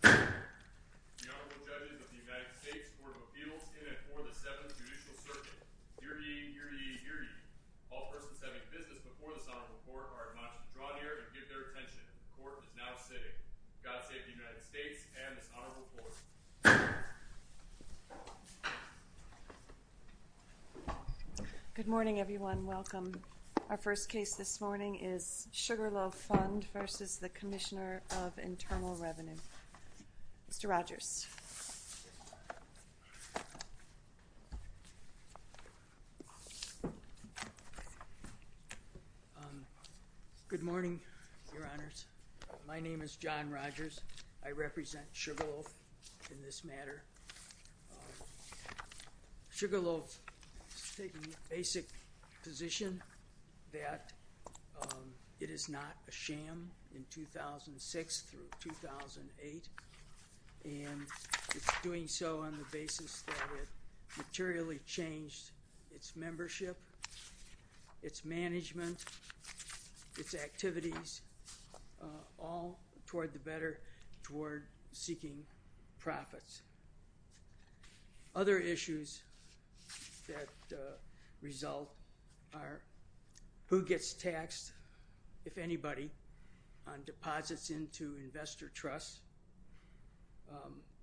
The Honorable Judges of the United States Court of Appeals, in and for the Seventh Judicial Circuit. Hear ye, hear ye, hear ye. All persons having business before this Honorable Court are admonished to draw near and give their attention. The Court is now sitting. God save the United States and this Honorable Court. Good morning everyone. Welcome. Our first case this morning is Sugarloaf Fund v. Commissioner of Internal Revenue. Mr. Rogers. Good morning, Your Honors. My name is John Rogers. I represent Sugarloaf in this matter. Sugarloaf is taking a basic position that it is not a sham in 2006 through 2008, and it's doing so on the basis that it materially changed its membership, its management, its Other issues that result are who gets taxed, if anybody, on deposits into investor trusts,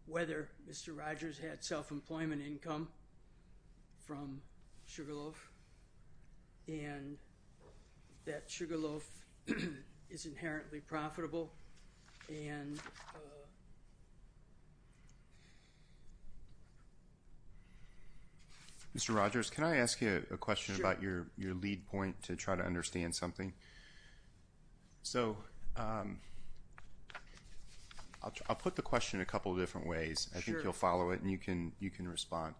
whether Mr. Rogers had self-employment income from Sugarloaf, and that Sugarloaf is inherently profitable. Mr. Rogers, can I ask you a question about your lead point to try to understand something? I'll put the question a couple of different ways. I think you'll follow it and you can respond.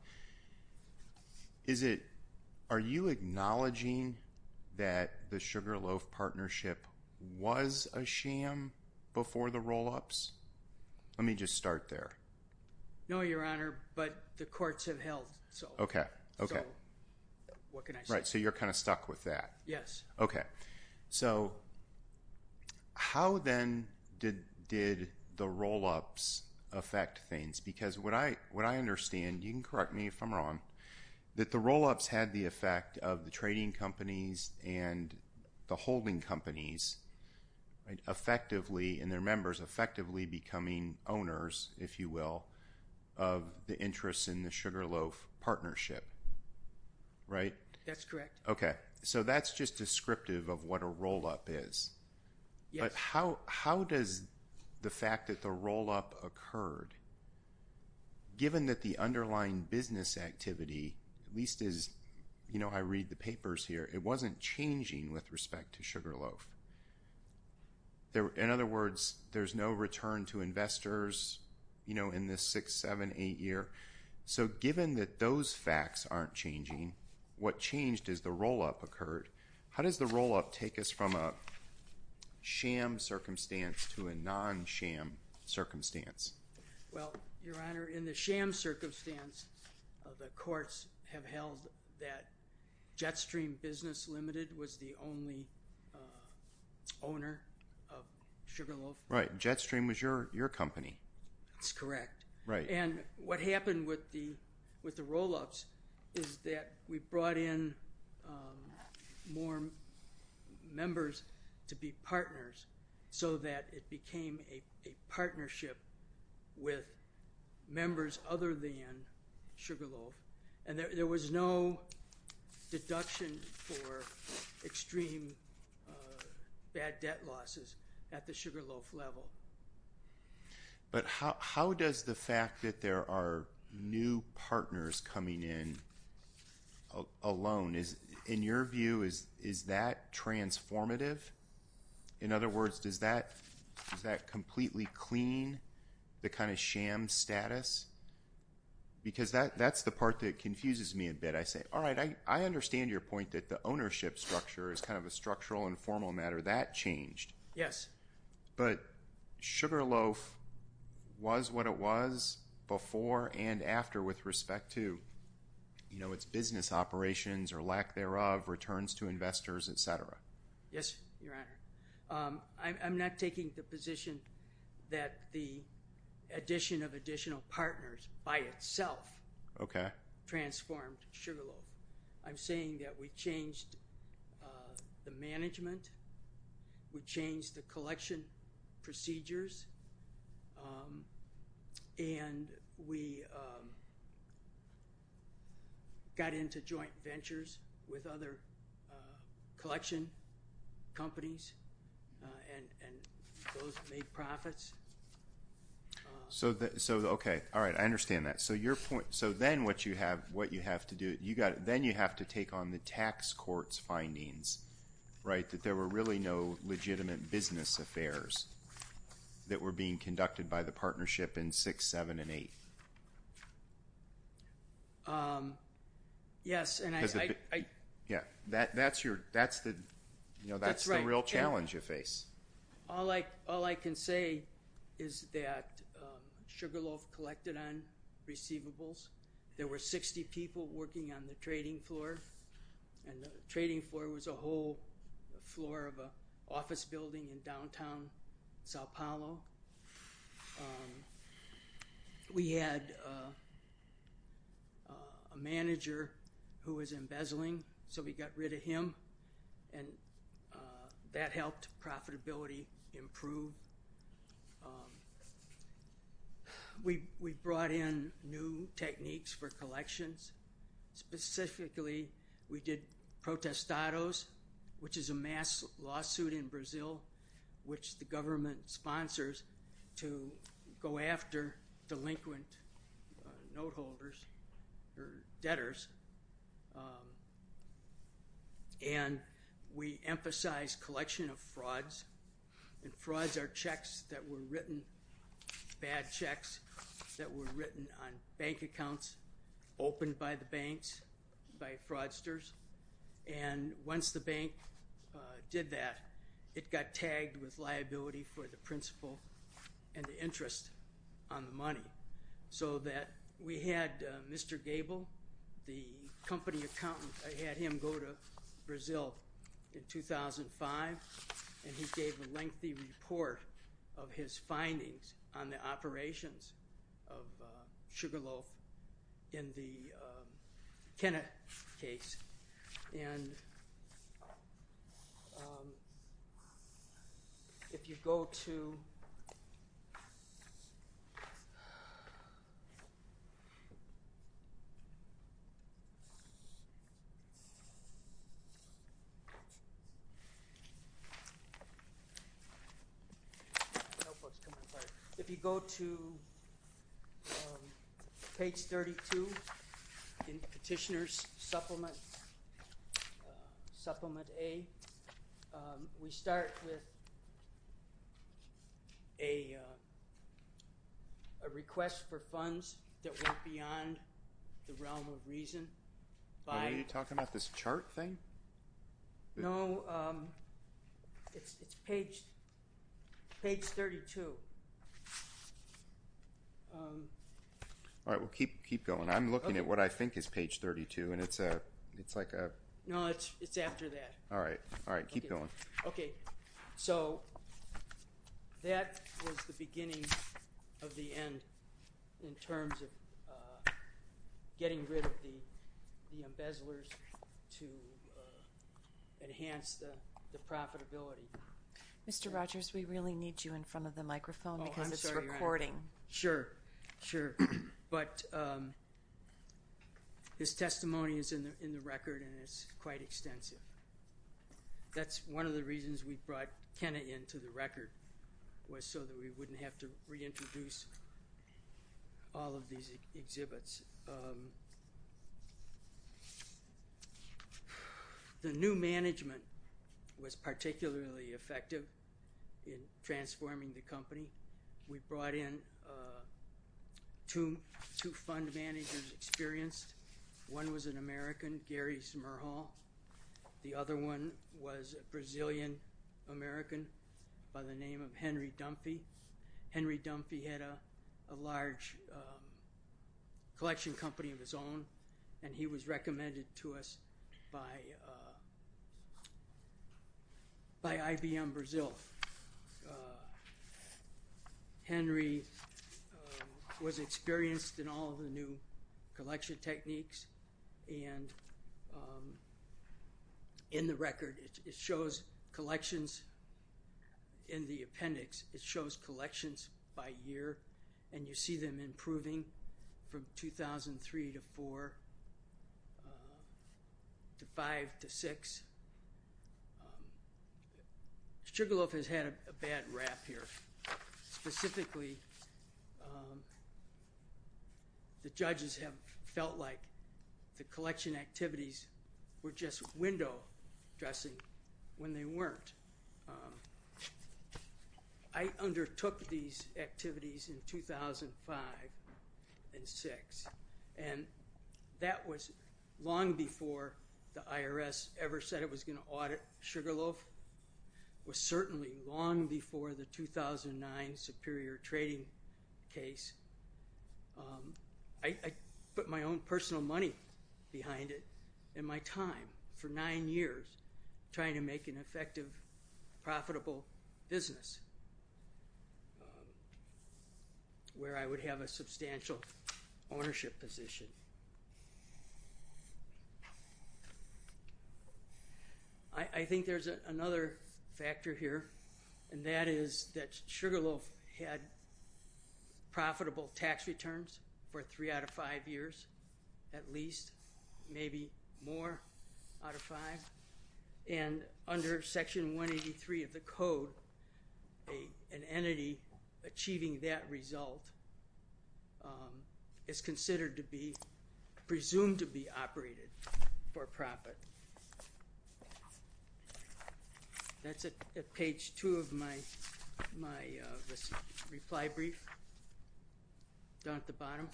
Are you acknowledging that the Sugarloaf partnership was a sham before the roll-ups? Let me just start there. No, Your Honor, but the courts have held, so what can I say? Right, so you're kind of stuck with that. Yes. Okay. So how then did the roll-ups affect things? Because what I understand, you can correct me if I'm wrong, that the roll-ups had the effect of the trading companies and the holding companies and their members effectively becoming owners, if you will, of the interest in the Sugarloaf partnership, right? That's correct. Okay. So that's just descriptive of what a roll-up is. Yes. But how does the fact that the roll-up occurred, given that the underlying business activity, at least as I read the papers here, it wasn't changing with respect to Sugarloaf. In other words, there's no return to investors in this six, seven, eight year. So given that those facts aren't changing, what changed is the roll-up occurred. How does the roll-up take us from a sham circumstance to a non-sham circumstance? Well, Your Honor, in the sham circumstance, the courts have held that Jetstream Business Limited was the only owner of Sugarloaf. Right. Jetstream was your company. That's correct. Right. And what happened with the roll-ups is that we brought in more members to be partners so that it became a partnership with members other than Sugarloaf. And there was no deduction for extreme bad debt losses at the Sugarloaf level. But how does the fact that there are new partners coming in alone, in your view, is that transformative? In other words, does that completely clean the kind of sham status? Because that's the part that confuses me a bit. I say, all right, I understand your point that the ownership structure is kind of a structural and formal matter. That changed. Yes. But Sugarloaf was what it was before and after with respect to its business operations or lack thereof, returns to investors, et cetera. Yes, Your Honor. I'm not taking the position that the addition of additional partners by itself transformed Sugarloaf. I'm saying that we changed the management, we changed the collection procedures, and we got into joint ventures with other collection companies, and those made profits. Okay. All right. I understand that. So then what you have to do, then you have to take on the tax court's findings, right, that there were really no legitimate business affairs that were being conducted by the partnership in 6, 7, and 8. Yes. That's the real challenge you face. All I can say is that Sugarloaf collected on receivables. There were 60 people working on the trading floor, and the trading floor was a whole floor of an office building in downtown Sao Paulo. We had a manager who was embezzling, so we got rid of him, and that helped profitability improve. We brought in new techniques for collections. Specifically, we did protestados, which is a mass lawsuit in Brazil, which the government sponsors to go after delinquent note holders or debtors, and we emphasized collection of frauds, and frauds are checks that were written, bad checks that were written on bank accounts, opened by the banks by fraudsters, and once the bank did that, it got tagged with liability for the principal and the interest on the money. So that we had Mr. Gable, the company accountant, I had him go to Brazil in 2005, and he gave a lengthy report of his findings on the operations of Sugarloaf in the Kennett case. And if you go to... Supplement A, we start with a request for funds that went beyond the realm of reason. Are you talking about this chart thing? No, it's page 32. All right, well, keep going. I'm looking at what I think is page 32, and it's like a... No, it's after that. All right, keep going. Okay, so that was the beginning of the end in terms of getting rid of the embezzlers to enhance the profitability. Mr. Rogers, we really need you in front of the microphone because it's recording. Oh, I'm sorry, Your Honor. Sure, sure. But his testimony is in the record, and it's quite extensive. That's one of the reasons we brought Kennett into the record, was so that we wouldn't have to reintroduce all of these exhibits. The new management was particularly effective in transforming the company. We brought in two fund managers experienced. One was an American, Gary Smirhall. The other one was a Brazilian-American by the name of Henry Dunphy. Henry Dunphy had a large collection company of his own, and he was recommended to us by IBM Brazil. Henry was experienced in all of the new collection techniques, and in the record it shows collections in the appendix. It shows collections by year, and you see them improving from 2003 to 4, to 5, to 6. Strugolov has had a bad rap here. Specifically, the judges have felt like the collection activities were just window dressing when they weren't. I undertook these activities in 2005 and 2006, and that was long before the IRS ever said it was going to audit Strugolov. It was certainly long before the 2009 Superior Trading case. I put my own personal money behind it and my time for nine years trying to make an effective, profitable business where I would have a substantial ownership position. I think there's another factor here, and that is that Strugolov had profitable tax returns for three out of five years, at least, maybe more out of five. Under Section 183 of the code, an entity achieving that result is considered to be, presumed to be, operated for profit. That's at page two of my reply brief, down at the bottom.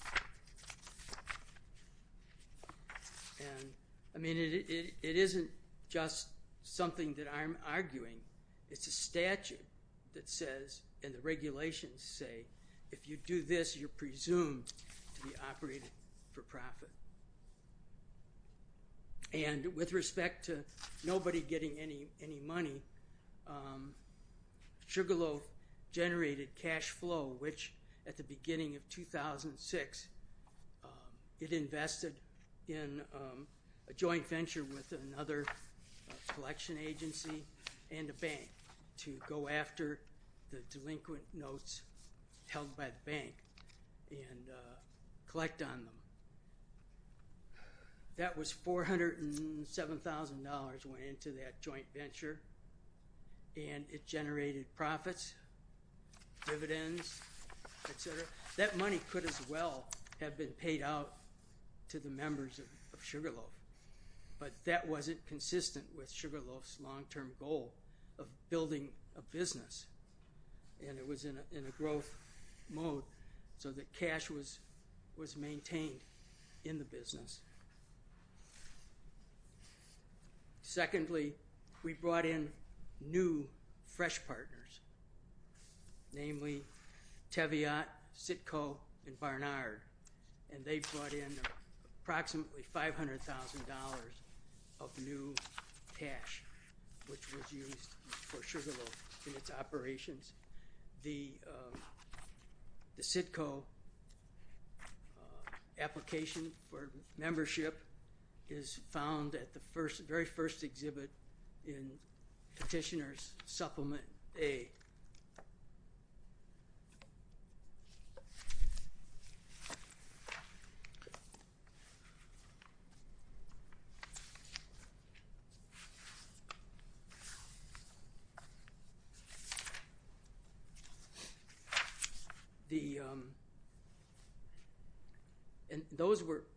And, I mean, it isn't just something that I'm arguing. It's a statute that says, and the regulations say, if you do this, you're presumed to be operated for profit. And with respect to nobody getting any money, Strugolov generated cash flow, which at the beginning of 2006, it invested in a joint venture with another collection agency and a bank to go after the delinquent notes held by the bank and collect on them. That was $407,000 went into that joint venture, and it generated profits, dividends, et cetera. That money could as well have been paid out to the members of Strugolov, but that wasn't consistent with Strugolov's long-term goal of building a business, and it was in a growth mode so that cash was maintained in the business. Secondly, we brought in new, fresh partners, namely Teviot, Citco, and Barnard, and they brought in approximately $500,000 of new cash, which was used for Strugolov and its operations. The Citco application for membership is found at the very first exhibit in Petitioner's Supplement A.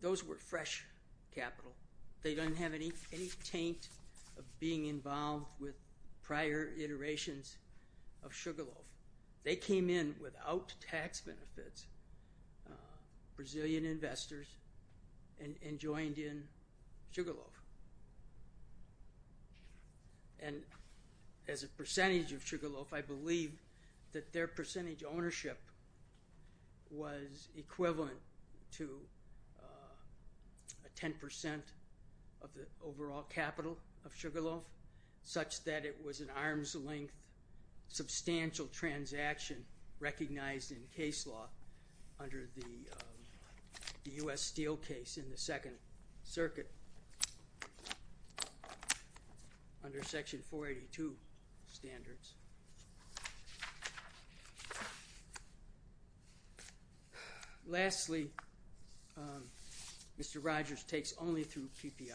Those were fresh capital. They didn't have any taint of being involved with prior iterations of Strugolov. They came in without tax benefits, Brazilian investors, and joined in Strugolov. And as a percentage of Strugolov, I believe that their percentage ownership was equivalent to 10% of the overall capital of Strugolov, such that it was an arm's-length substantial transaction recognized in case law under the U.S. Steel case in the Second Circuit under Section 482 standards. Lastly, Mr. Rogers takes only through PPI.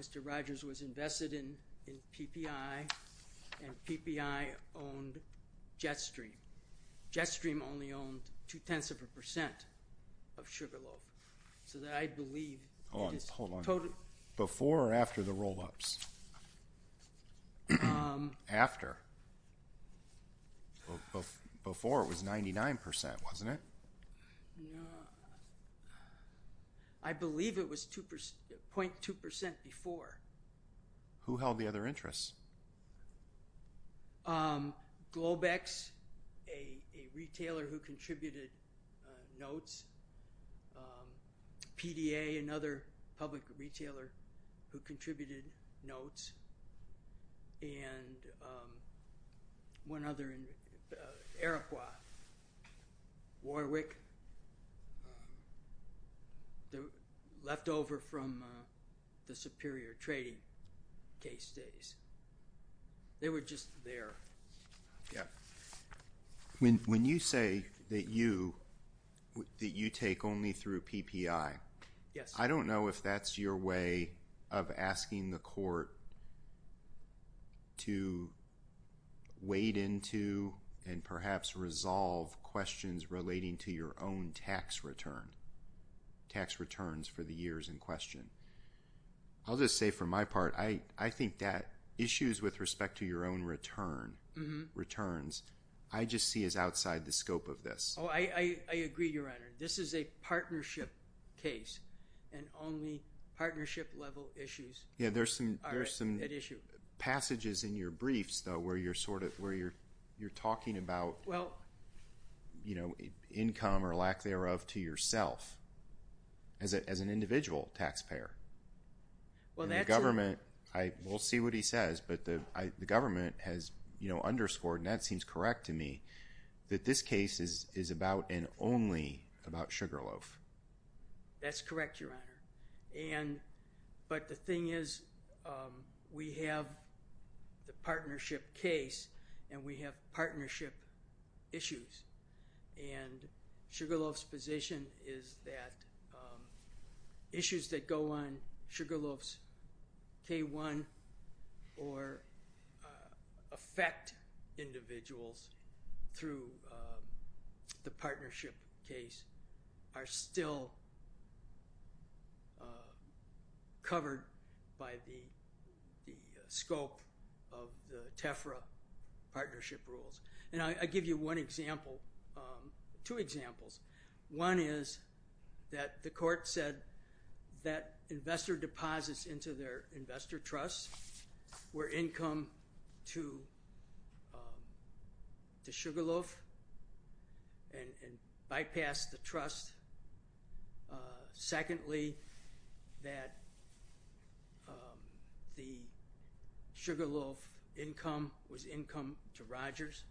Mr. Rogers was invested in PPI, and PPI owned Jetstream. Jetstream only owned two-tenths of a percent of Strugolov, so that I believe it is total. Hold on. Before or after the roll-ups? After. Before it was 99%, wasn't it? No. I believe it was 0.2% before. Who held the other interests? Globex, a retailer who contributed notes, PDA, another public retailer who contributed notes, and one other in Iroquois, Warwick, left over from the superior trading case days. They were just there. When you say that you take only through PPI, I don't know if that's your way of asking the court to wade into and perhaps resolve questions relating to your own tax returns for the years in question. I'll just say for my part, I think that issues with respect to your own returns, I just see as outside the scope of this. I agree, Your Honor. This is a partnership case, and only partnership-level issues are at issue. There are passages in your briefs, though, where you're talking about income or lack thereof to yourself as an individual taxpayer. We'll see what he says, but the government has underscored, and that seems correct to me, that this case is about and only about Sugar Loaf. That's correct, Your Honor. But the thing is, we have the partnership case, and we have partnership issues. Sugar Loaf's position is that issues that go on Sugar Loaf's K-1 or affect individuals through the partnership case are still covered by the scope of the TEFRA partnership rules. I'll give you two examples. One is that the court said that investor deposits into their investor trusts were income to Sugar Loaf and bypassed the trust. Secondly, that the Sugar Loaf income was income to Rogers,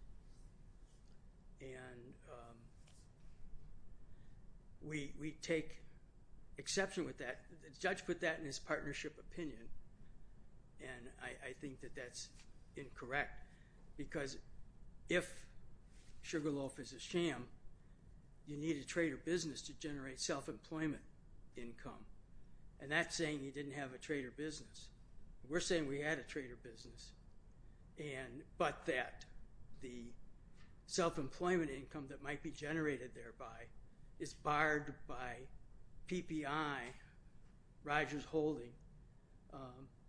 and we take exception with that. The judge put that in his partnership opinion, and I think that that's incorrect because if Sugar Loaf is a sham, you need a trade or business to generate self-employment income, and that's saying you didn't have a trade or business. We're saying we had a trade or business, but that the self-employment income that might be generated thereby is barred by PPI Rogers holding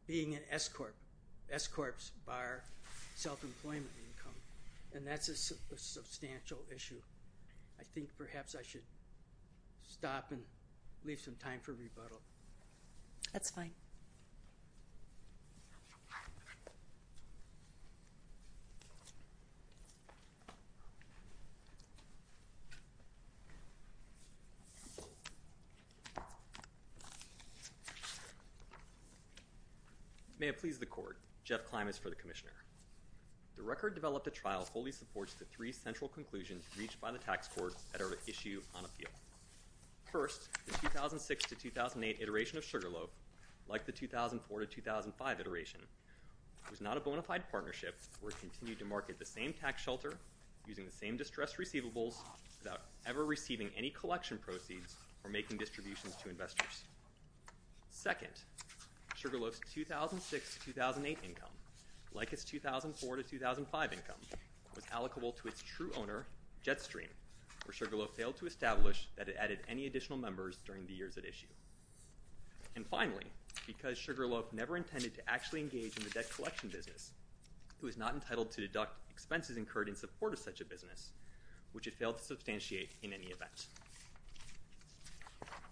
being an S-corp. S-corps bar self-employment income, and that's a substantial issue. I think perhaps I should stop and leave some time for rebuttal. That's fine. May it please the court. Jeff Klim is for the commissioner. The record developed at trial fully supports the three central conclusions reached by the tax court at our issue on appeal. First, the 2006-2008 iteration of Sugar Loaf, like the 2004-2005 iteration, was not a bona fide partnership where it continued to market the same tax shelter using the same distressed receivables without ever receiving any collection proceeds or making distributions to investors. Second, Sugar Loaf's 2006-2008 income, like its 2004-2005 income, was allocable to its true owner, Jetstream, where Sugar Loaf failed to establish that it added any additional members during the years at issue. And finally, because Sugar Loaf never intended to actually engage in the debt collection business, it was not entitled to deduct expenses incurred in support of such a business, which it failed to substantiate in any event.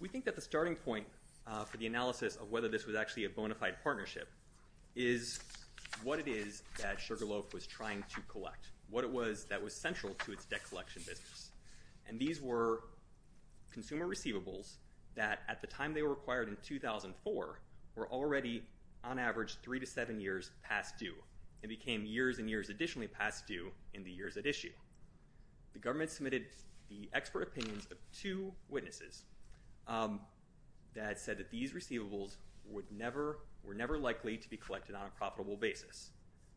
We think that the starting point for the analysis of whether this was actually a bona fide partnership is what it is that Sugar Loaf was trying to collect, what it was that was central to its debt collection business. And these were consumer receivables that, at the time they were required in 2004, were already on average three to seven years past due and became years and years additionally past due in the years at issue. The government submitted the expert opinions of two witnesses that said that these receivables were never likely to be collected on a profitable basis.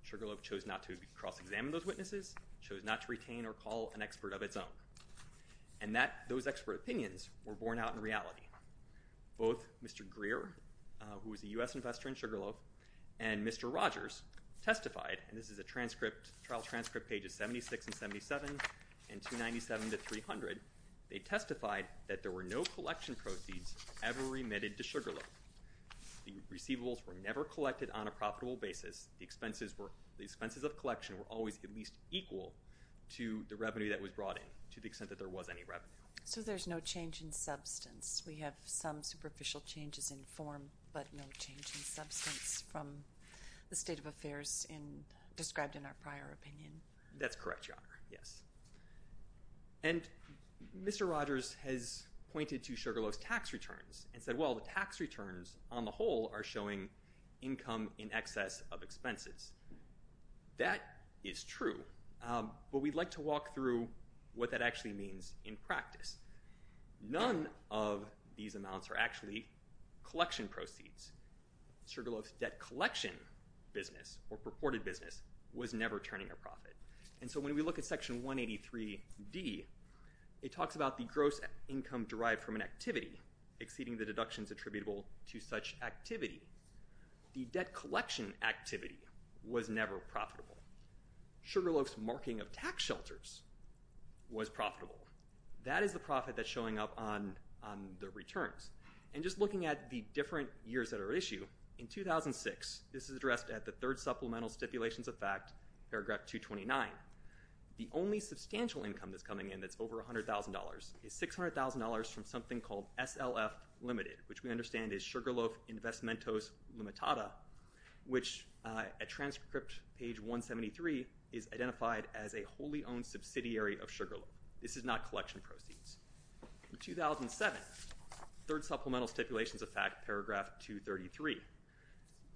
Sugar Loaf chose not to cross-examine those witnesses, chose not to retain or call an expert of its own. And those expert opinions were borne out in reality. Both Mr. Greer, who was a U.S. investor in Sugar Loaf, and Mr. Rogers testified, and this is a trial transcript pages 76 and 77 and 297 to 300. They testified that there were no collection proceeds ever remitted to Sugar Loaf. The receivables were never collected on a profitable basis. The expenses of collection were always at least equal to the revenue that was brought in, to the extent that there was any revenue. So there's no change in substance. We have some superficial changes in form, but no change in substance from the state of affairs described in our prior opinion. That's correct, Your Honor, yes. And Mr. Rogers has pointed to Sugar Loaf's tax returns and said, well, the tax returns on the whole are showing income in excess of expenses. That is true, but we'd like to walk through what that actually means in practice. None of these amounts are actually collection proceeds. Sugar Loaf's debt collection business or purported business was never turning a profit. And so when we look at Section 183D, it talks about the gross income derived from an activity exceeding the deductions attributable to such activity. The debt collection activity was never profitable. Sugar Loaf's marking of tax shelters was profitable. That is the profit that's showing up on the returns. And just looking at the different years that are at issue, in 2006, this is addressed at the third supplemental stipulations of fact, paragraph 229. The only substantial income that's coming in that's over $100,000 is $600,000 from something called SLF Limited, which we understand is Sugar Loaf Investmentos Limitada, which at transcript page 173 is identified as a wholly owned subsidiary of Sugar Loaf. This is not collection proceeds. In 2007, third supplemental stipulations of fact, paragraph 233,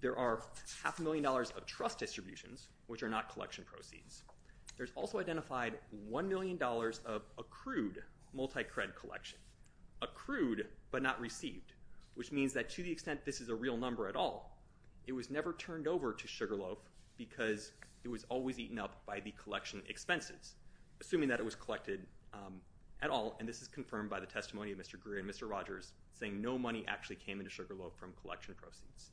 there are half a million dollars of trust distributions, which are not collection proceeds. There's also identified $1 million of accrued multi-cred collection. Accrued but not received, which means that to the extent this is a real number at all, it was never turned over to Sugar Loaf because it was always eaten up by the collection expenses, assuming that it was collected at all. And this is confirmed by the testimony of Mr. Greer and Mr. Rogers, saying no money actually came into Sugar Loaf from collection proceeds.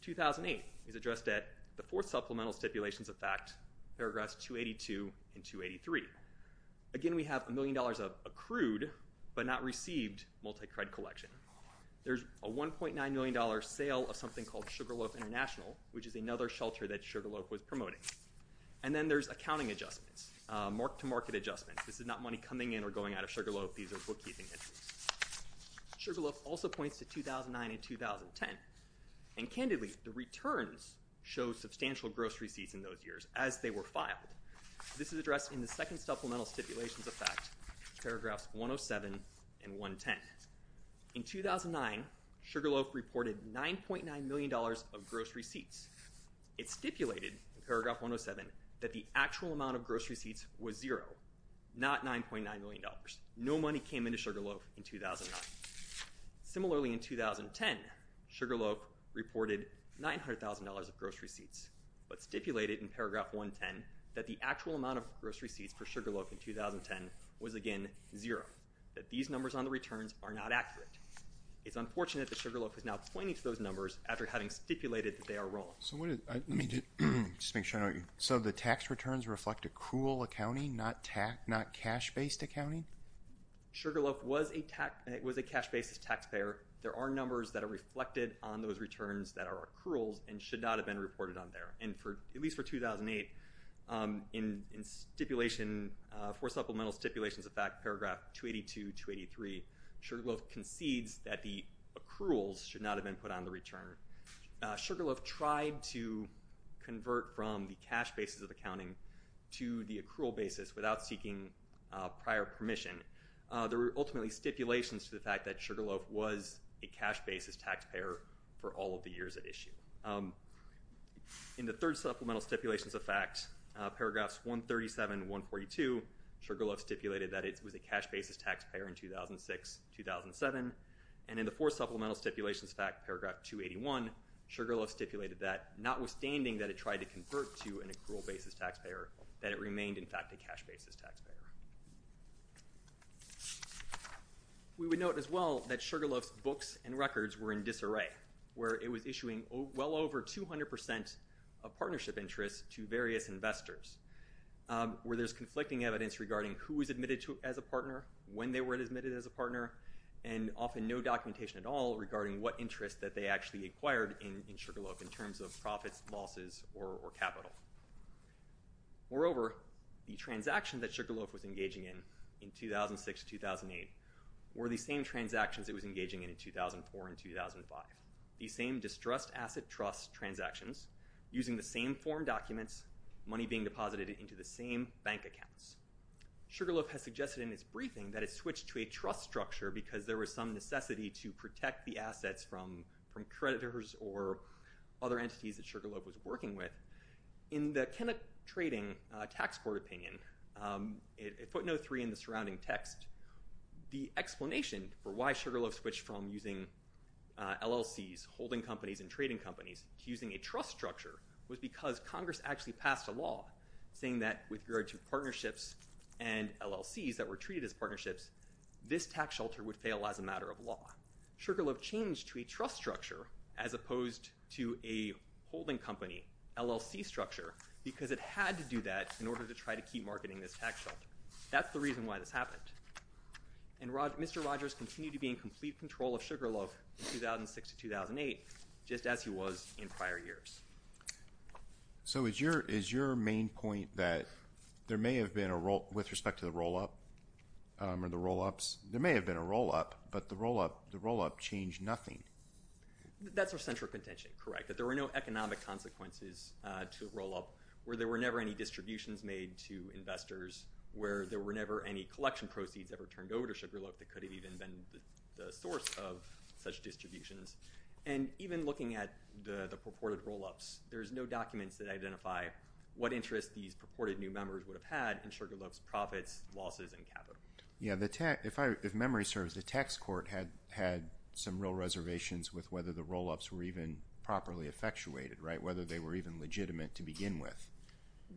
2008 is addressed at the fourth supplemental stipulations of fact, paragraphs 282 and 283. Again, we have $1 million of accrued but not received multi-cred collection. There's a $1.9 million sale of something called Sugar Loaf International, which is another shelter that Sugar Loaf was promoting. And then there's accounting adjustments, mark-to-market adjustments. This is not money coming in or going out of Sugar Loaf. These are bookkeeping entries. Sugar Loaf also points to 2009 and 2010. And candidly, the returns show substantial gross receipts in those years as they were filed. This is addressed in the second supplemental stipulations of fact, paragraphs 107 and 110. In 2009, Sugar Loaf reported $9.9 million of gross receipts. It stipulated in paragraph 107 that the actual amount of gross receipts was zero, not $9.9 million. No money came into Sugar Loaf in 2009. Similarly, in 2010, Sugar Loaf reported $900,000 of gross receipts, but stipulated in paragraph 110 that the actual amount of gross receipts for Sugar Loaf in 2010 was again zero, that these numbers on the returns are not accurate. It's unfortunate that Sugar Loaf is now pointing to those numbers after having stipulated that they are wrong. Let me just make sure I know. So the tax returns reflect accrual accounting, not cash-based accounting? Sugar Loaf was a cash-based taxpayer. There are numbers that are reflected on those returns that are accruals and should not have been reported on there. And at least for 2008, in stipulation for supplemental stipulations of fact, paragraph 282, 283, Sugar Loaf concedes that the accruals should not have been put on the return. Sugar Loaf tried to convert from the cash basis of accounting to the accrual basis without seeking prior permission. There were ultimately stipulations to the fact that Sugar Loaf was a cash basis taxpayer for all of the years at issue. In the third supplemental stipulations of fact, paragraphs 137 and 142, Sugar Loaf stipulated that it was a cash basis taxpayer in 2006-2007, and in the fourth supplemental stipulations of fact, paragraph 281, Sugar Loaf stipulated that notwithstanding that it tried to convert to an accrual basis taxpayer, that it remained, in fact, a cash basis taxpayer. We would note as well that Sugar Loaf's books and records were in disarray, where it was issuing well over 200 percent of partnership interest to various investors. Where there's conflicting evidence regarding who was admitted as a partner, when they were admitted as a partner, and often no documentation at all regarding what interest that they actually acquired in Sugar Loaf, in terms of profits, losses, or capital. Moreover, the transactions that Sugar Loaf was engaging in, in 2006-2008, were the same transactions it was engaging in in 2004 and 2005. The same distrust asset trust transactions, using the same foreign documents, money being deposited into the same bank accounts. Sugar Loaf has suggested in its briefing that it switched to a trust structure because there was some necessity to protect the assets from creditors or other entities that Sugar Loaf was working with. In the Kenneth Trading Tax Court opinion, footnote three in the surrounding text, the explanation for why Sugar Loaf switched from using LLCs, holding companies and trading companies, to using a trust structure, was because Congress actually passed a law saying that, with regard to partnerships and LLCs that were treated as partnerships, this tax shelter would fail as a matter of law. Sugar Loaf changed to a trust structure as opposed to a holding company LLC structure because it had to do that in order to try to keep marketing this tax shelter. That's the reason why this happened. And Mr. Rogers continued to be in complete control of Sugar Loaf in 2006-2008, just as he was in prior years. So is your main point that there may have been, with respect to the roll-up or the roll-ups, there may have been a roll-up, but the roll-up changed nothing? That's our central contention, correct, that there were no economic consequences to the roll-up, where there were never any distributions made to investors, where there were never any collection proceeds ever turned over to Sugar Loaf that could have even been the source of such distributions. And even looking at the purported roll-ups, there's no documents that identify what interest these purported new members would have had in Sugar Loaf's profits, losses, and capital. Yeah, if memory serves, the tax court had some real reservations with whether the roll-ups were even properly effectuated, right, whether they were even legitimate to begin with.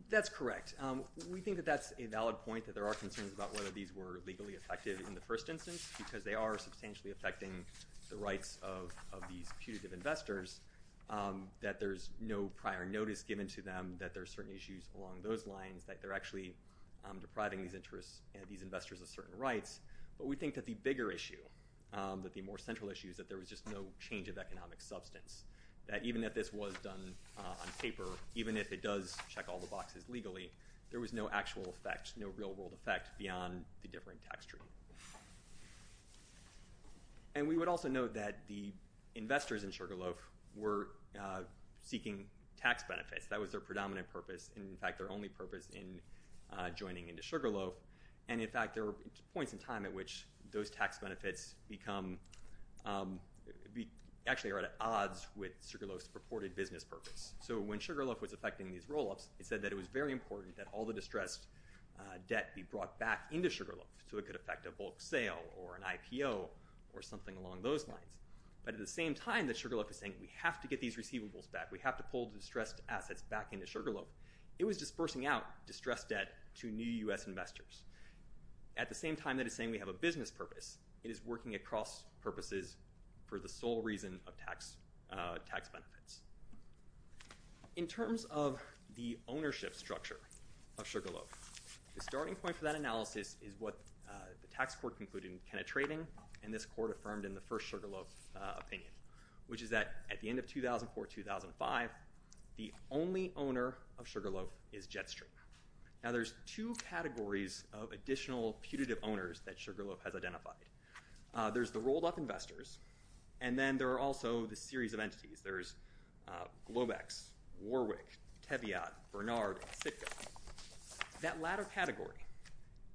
That's correct. We think that that's a valid point, that there are concerns about whether these were legally effective in the first instance because they are substantially affecting the rights of these putative investors, that there's no prior notice given to them, that there are certain issues along those lines, that they're actually depriving these investors of certain rights. But we think that the bigger issue, that the more central issue, is that there was just no change of economic substance, that even if this was done on paper, even if it does check all the boxes legally, there was no actual effect, beyond the differing tax treaty. And we would also note that the investors in Sugar Loaf were seeking tax benefits. That was their predominant purpose and, in fact, their only purpose in joining into Sugar Loaf. And, in fact, there were points in time at which those tax benefits become – actually are at odds with Sugar Loaf's purported business purpose. So when Sugar Loaf was affecting these roll-ups, it said that it was very important that all the distressed debt be brought back into Sugar Loaf so it could affect a bulk sale or an IPO or something along those lines. But at the same time that Sugar Loaf is saying we have to get these receivables back, we have to pull distressed assets back into Sugar Loaf, it was dispersing out distressed debt to new U.S. investors. At the same time that it's saying we have a business purpose, it is working across purposes for the sole reason of tax benefits. In terms of the ownership structure of Sugar Loaf, the starting point for that analysis is what the tax court concluded in Kennett Trading and this court affirmed in the first Sugar Loaf opinion, which is that at the end of 2004-2005, the only owner of Sugar Loaf is Jetstream. Now, there's two categories of additional putative owners that Sugar Loaf has identified. There's the rolled-up investors and then there are also the series of entities. There's Globex, Warwick, Teviat, Bernard, Citgo. That latter category,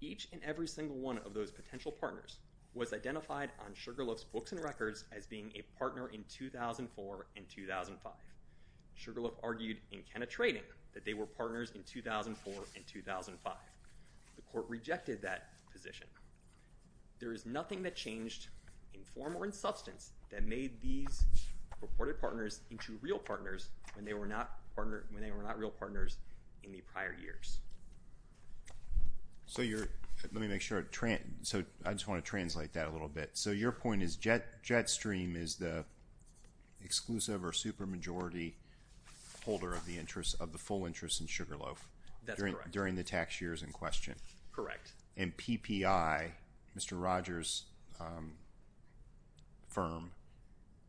each and every single one of those potential partners was identified on Sugar Loaf's books and records as being a partner in 2004 and 2005. Sugar Loaf argued in Kennett Trading that they were partners in 2004 and 2005. The court rejected that position. There is nothing that changed in form or in substance that made these purported partners into real partners when they were not real partners in the prior years. Let me make sure. I just want to translate that a little bit. So your point is Jetstream is the exclusive or supermajority holder of the full interest in Sugar Loaf? That's correct. During the tax years in question? Correct. And PPI, Mr. Rogers' firm,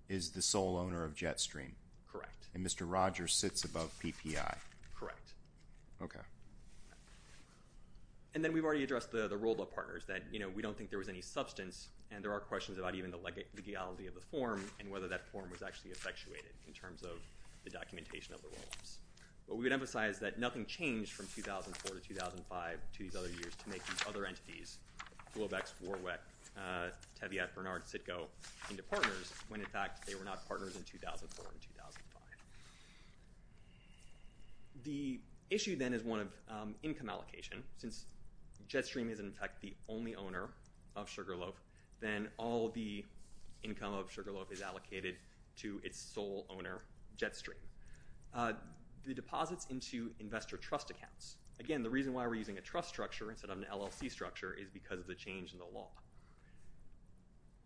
is the sole owner of Jetstream? Correct. And Mr. Rogers sits above PPI? Correct. Okay. And then we've already addressed the rolled-up partners that we don't think there was any substance, and there are questions about even the legality of the form and whether that form was actually effectuated in terms of the documentation of the rolled-ups. But we would emphasize that nothing changed from 2004 to 2005 to these other years to make these other entities, Globex, Warwick, Tevyeff, Bernard, Citgo, into partners when in fact they were not partners in 2004 and 2005. The issue then is one of income allocation. Since Jetstream is, in fact, the only owner of Sugar Loaf, then all the income of Sugar Loaf is allocated to its sole owner, Jetstream. The deposits into investor trust accounts. Again, the reason why we're using a trust structure instead of an LLC structure is because of the change in the law.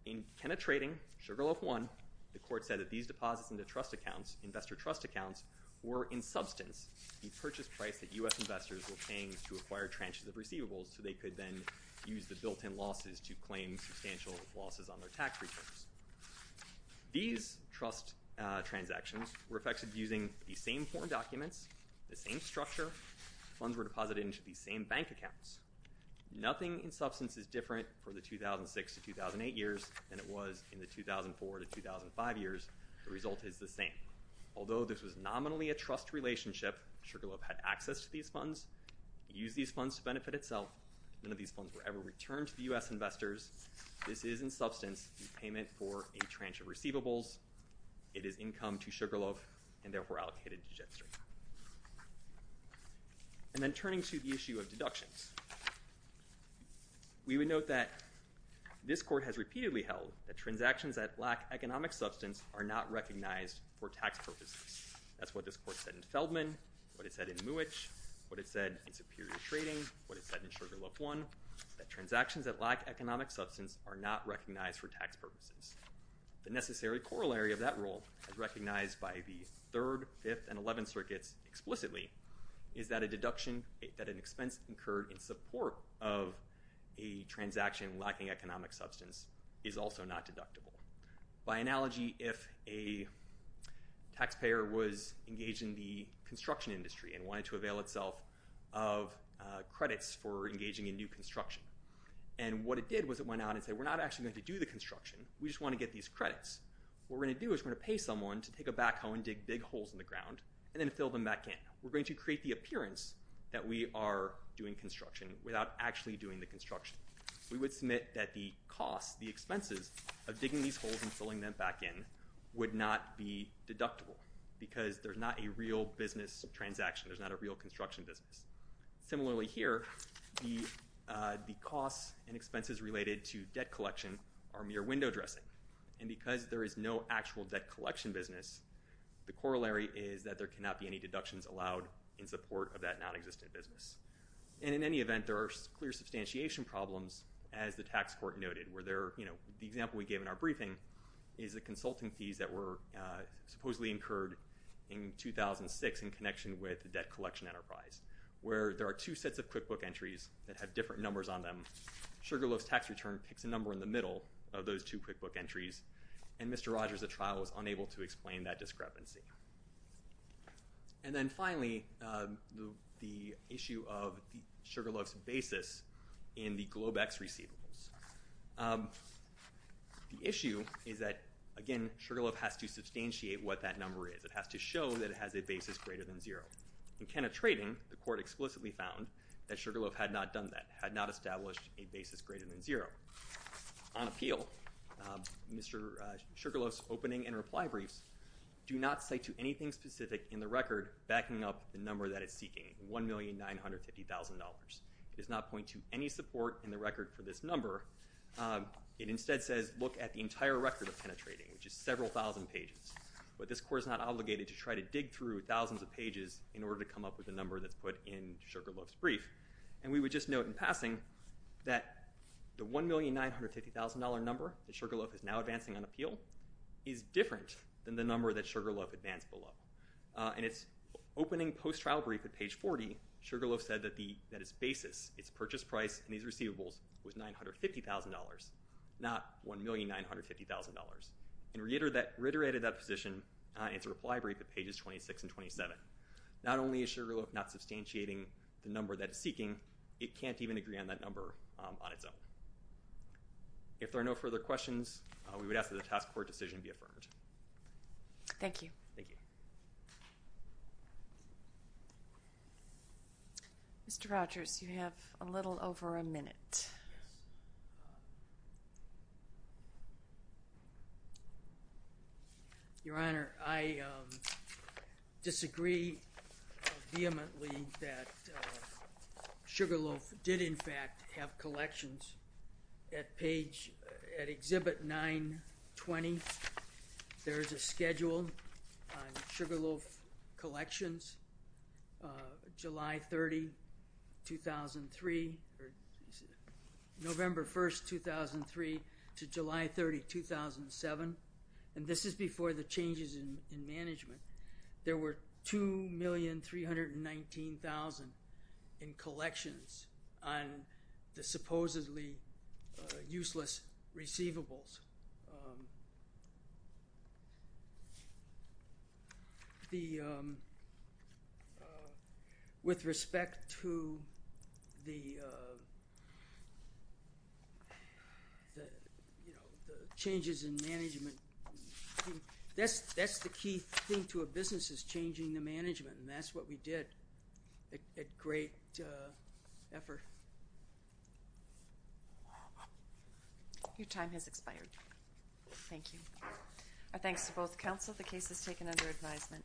In Kennett Trading, Sugar Loaf 1, the court said that these deposits into trust accounts, investor trust accounts, were in substance the purchase price that U.S. investors were paying to acquire tranches of receivables so they could then use the built-in losses to claim substantial losses on their tax returns. These trust transactions were effective using the same foreign documents, the same structure. Funds were deposited into the same bank accounts. Nothing in substance is different for the 2006 to 2008 years than it was in the 2004 to 2005 years. The result is the same. Although this was nominally a trust relationship, Sugar Loaf had access to these funds, used these funds to benefit itself. None of these funds were ever returned to the U.S. investors. This is, in substance, the payment for a tranche of receivables. It is income to Sugar Loaf and, therefore, allocated to Jetstream. And then turning to the issue of deductions, we would note that this court has repeatedly held that transactions that lack economic substance are not recognized for tax purposes. That's what this court said in Feldman, what it said in Muich, what it said in Superior Trading, what it said in Sugar Loaf 1, that transactions that lack economic substance are not recognized for tax purposes. The necessary corollary of that rule, as recognized by the 3rd, 5th, and 11th circuits explicitly, is that a deduction that an expense incurred in support of a transaction lacking economic substance is also not deductible. By analogy, if a taxpayer was engaged in the construction industry and wanted to avail itself of credits for engaging in new construction, and what it did was it went out and said, we're not actually going to do the construction, we just want to get these credits. What we're going to do is we're going to pay someone to take a backhoe and dig big holes in the ground and then fill them back in. We're going to create the appearance that we are doing construction without actually doing the construction. We would submit that the costs, the expenses, of digging these holes and filling them back in would not be deductible because there's not a real business transaction. There's not a real construction business. Similarly here, the costs and expenses related to debt collection are mere window dressing. And because there is no actual debt collection business, the corollary is that there cannot be any deductions allowed in support of that nonexistent business. And in any event, there are clear substantiation problems, as the tax court noted, where there are, you know, the example we gave in our briefing is the consulting fees that were supposedly incurred in 2006 in connection with the debt collection enterprise, where there are two sets of QuickBook entries that have different numbers on them. Sugarloaf's tax return picks a number in the middle of those two QuickBook entries, and Mr. Rogers at trial was unable to explain that discrepancy. And then finally, the issue of Sugarloaf's basis in the Globex receivables. The issue is that, again, Sugarloaf has to substantiate what that number is. It has to show that it has a basis greater than zero. In Kenna Trading, the court explicitly found that Sugarloaf had not done that, had not established a basis greater than zero. On appeal, Mr. Sugarloaf's opening and reply briefs do not cite to anything specific in the record backing up the number that it's seeking, $1,950,000. It does not point to any support in the record for this number. It instead says, look at the entire record of Kenna Trading, which is several thousand pages. But this court is not obligated to try to dig through thousands of pages in order to come up with a number that's put in Sugarloaf's brief. And we would just note in passing that the $1,950,000 number that Sugarloaf is now advancing on appeal is different than the number that Sugarloaf advanced below. In its opening post-trial brief at page 40, Sugarloaf said that its basis, its purchase price, and these receivables was $950,000, not $1,950,000. And reiterated that position in its reply brief at pages 26 and 27. Not only is Sugarloaf not substantiating the number that it's seeking, it can't even agree on that number on its own. If there are no further questions, we would ask that the task force decision be affirmed. Thank you. Mr. Rogers, you have a little over a minute. Your Honor, I disagree vehemently that Sugarloaf did, in fact, have collections at page, at Exhibit 920. There is a schedule on Sugarloaf collections, July 30, 2003, or November 1, 2003 to July 30, 2007. And this is before the changes in management. There were $2,319,000 in collections on the supposedly useless receivables. With respect to the changes in management, that's the key thing to a business is changing the management, and that's what we did, a great effort. Your time has expired. Thank you. Our thanks to both counsel. The case is taken under advisement.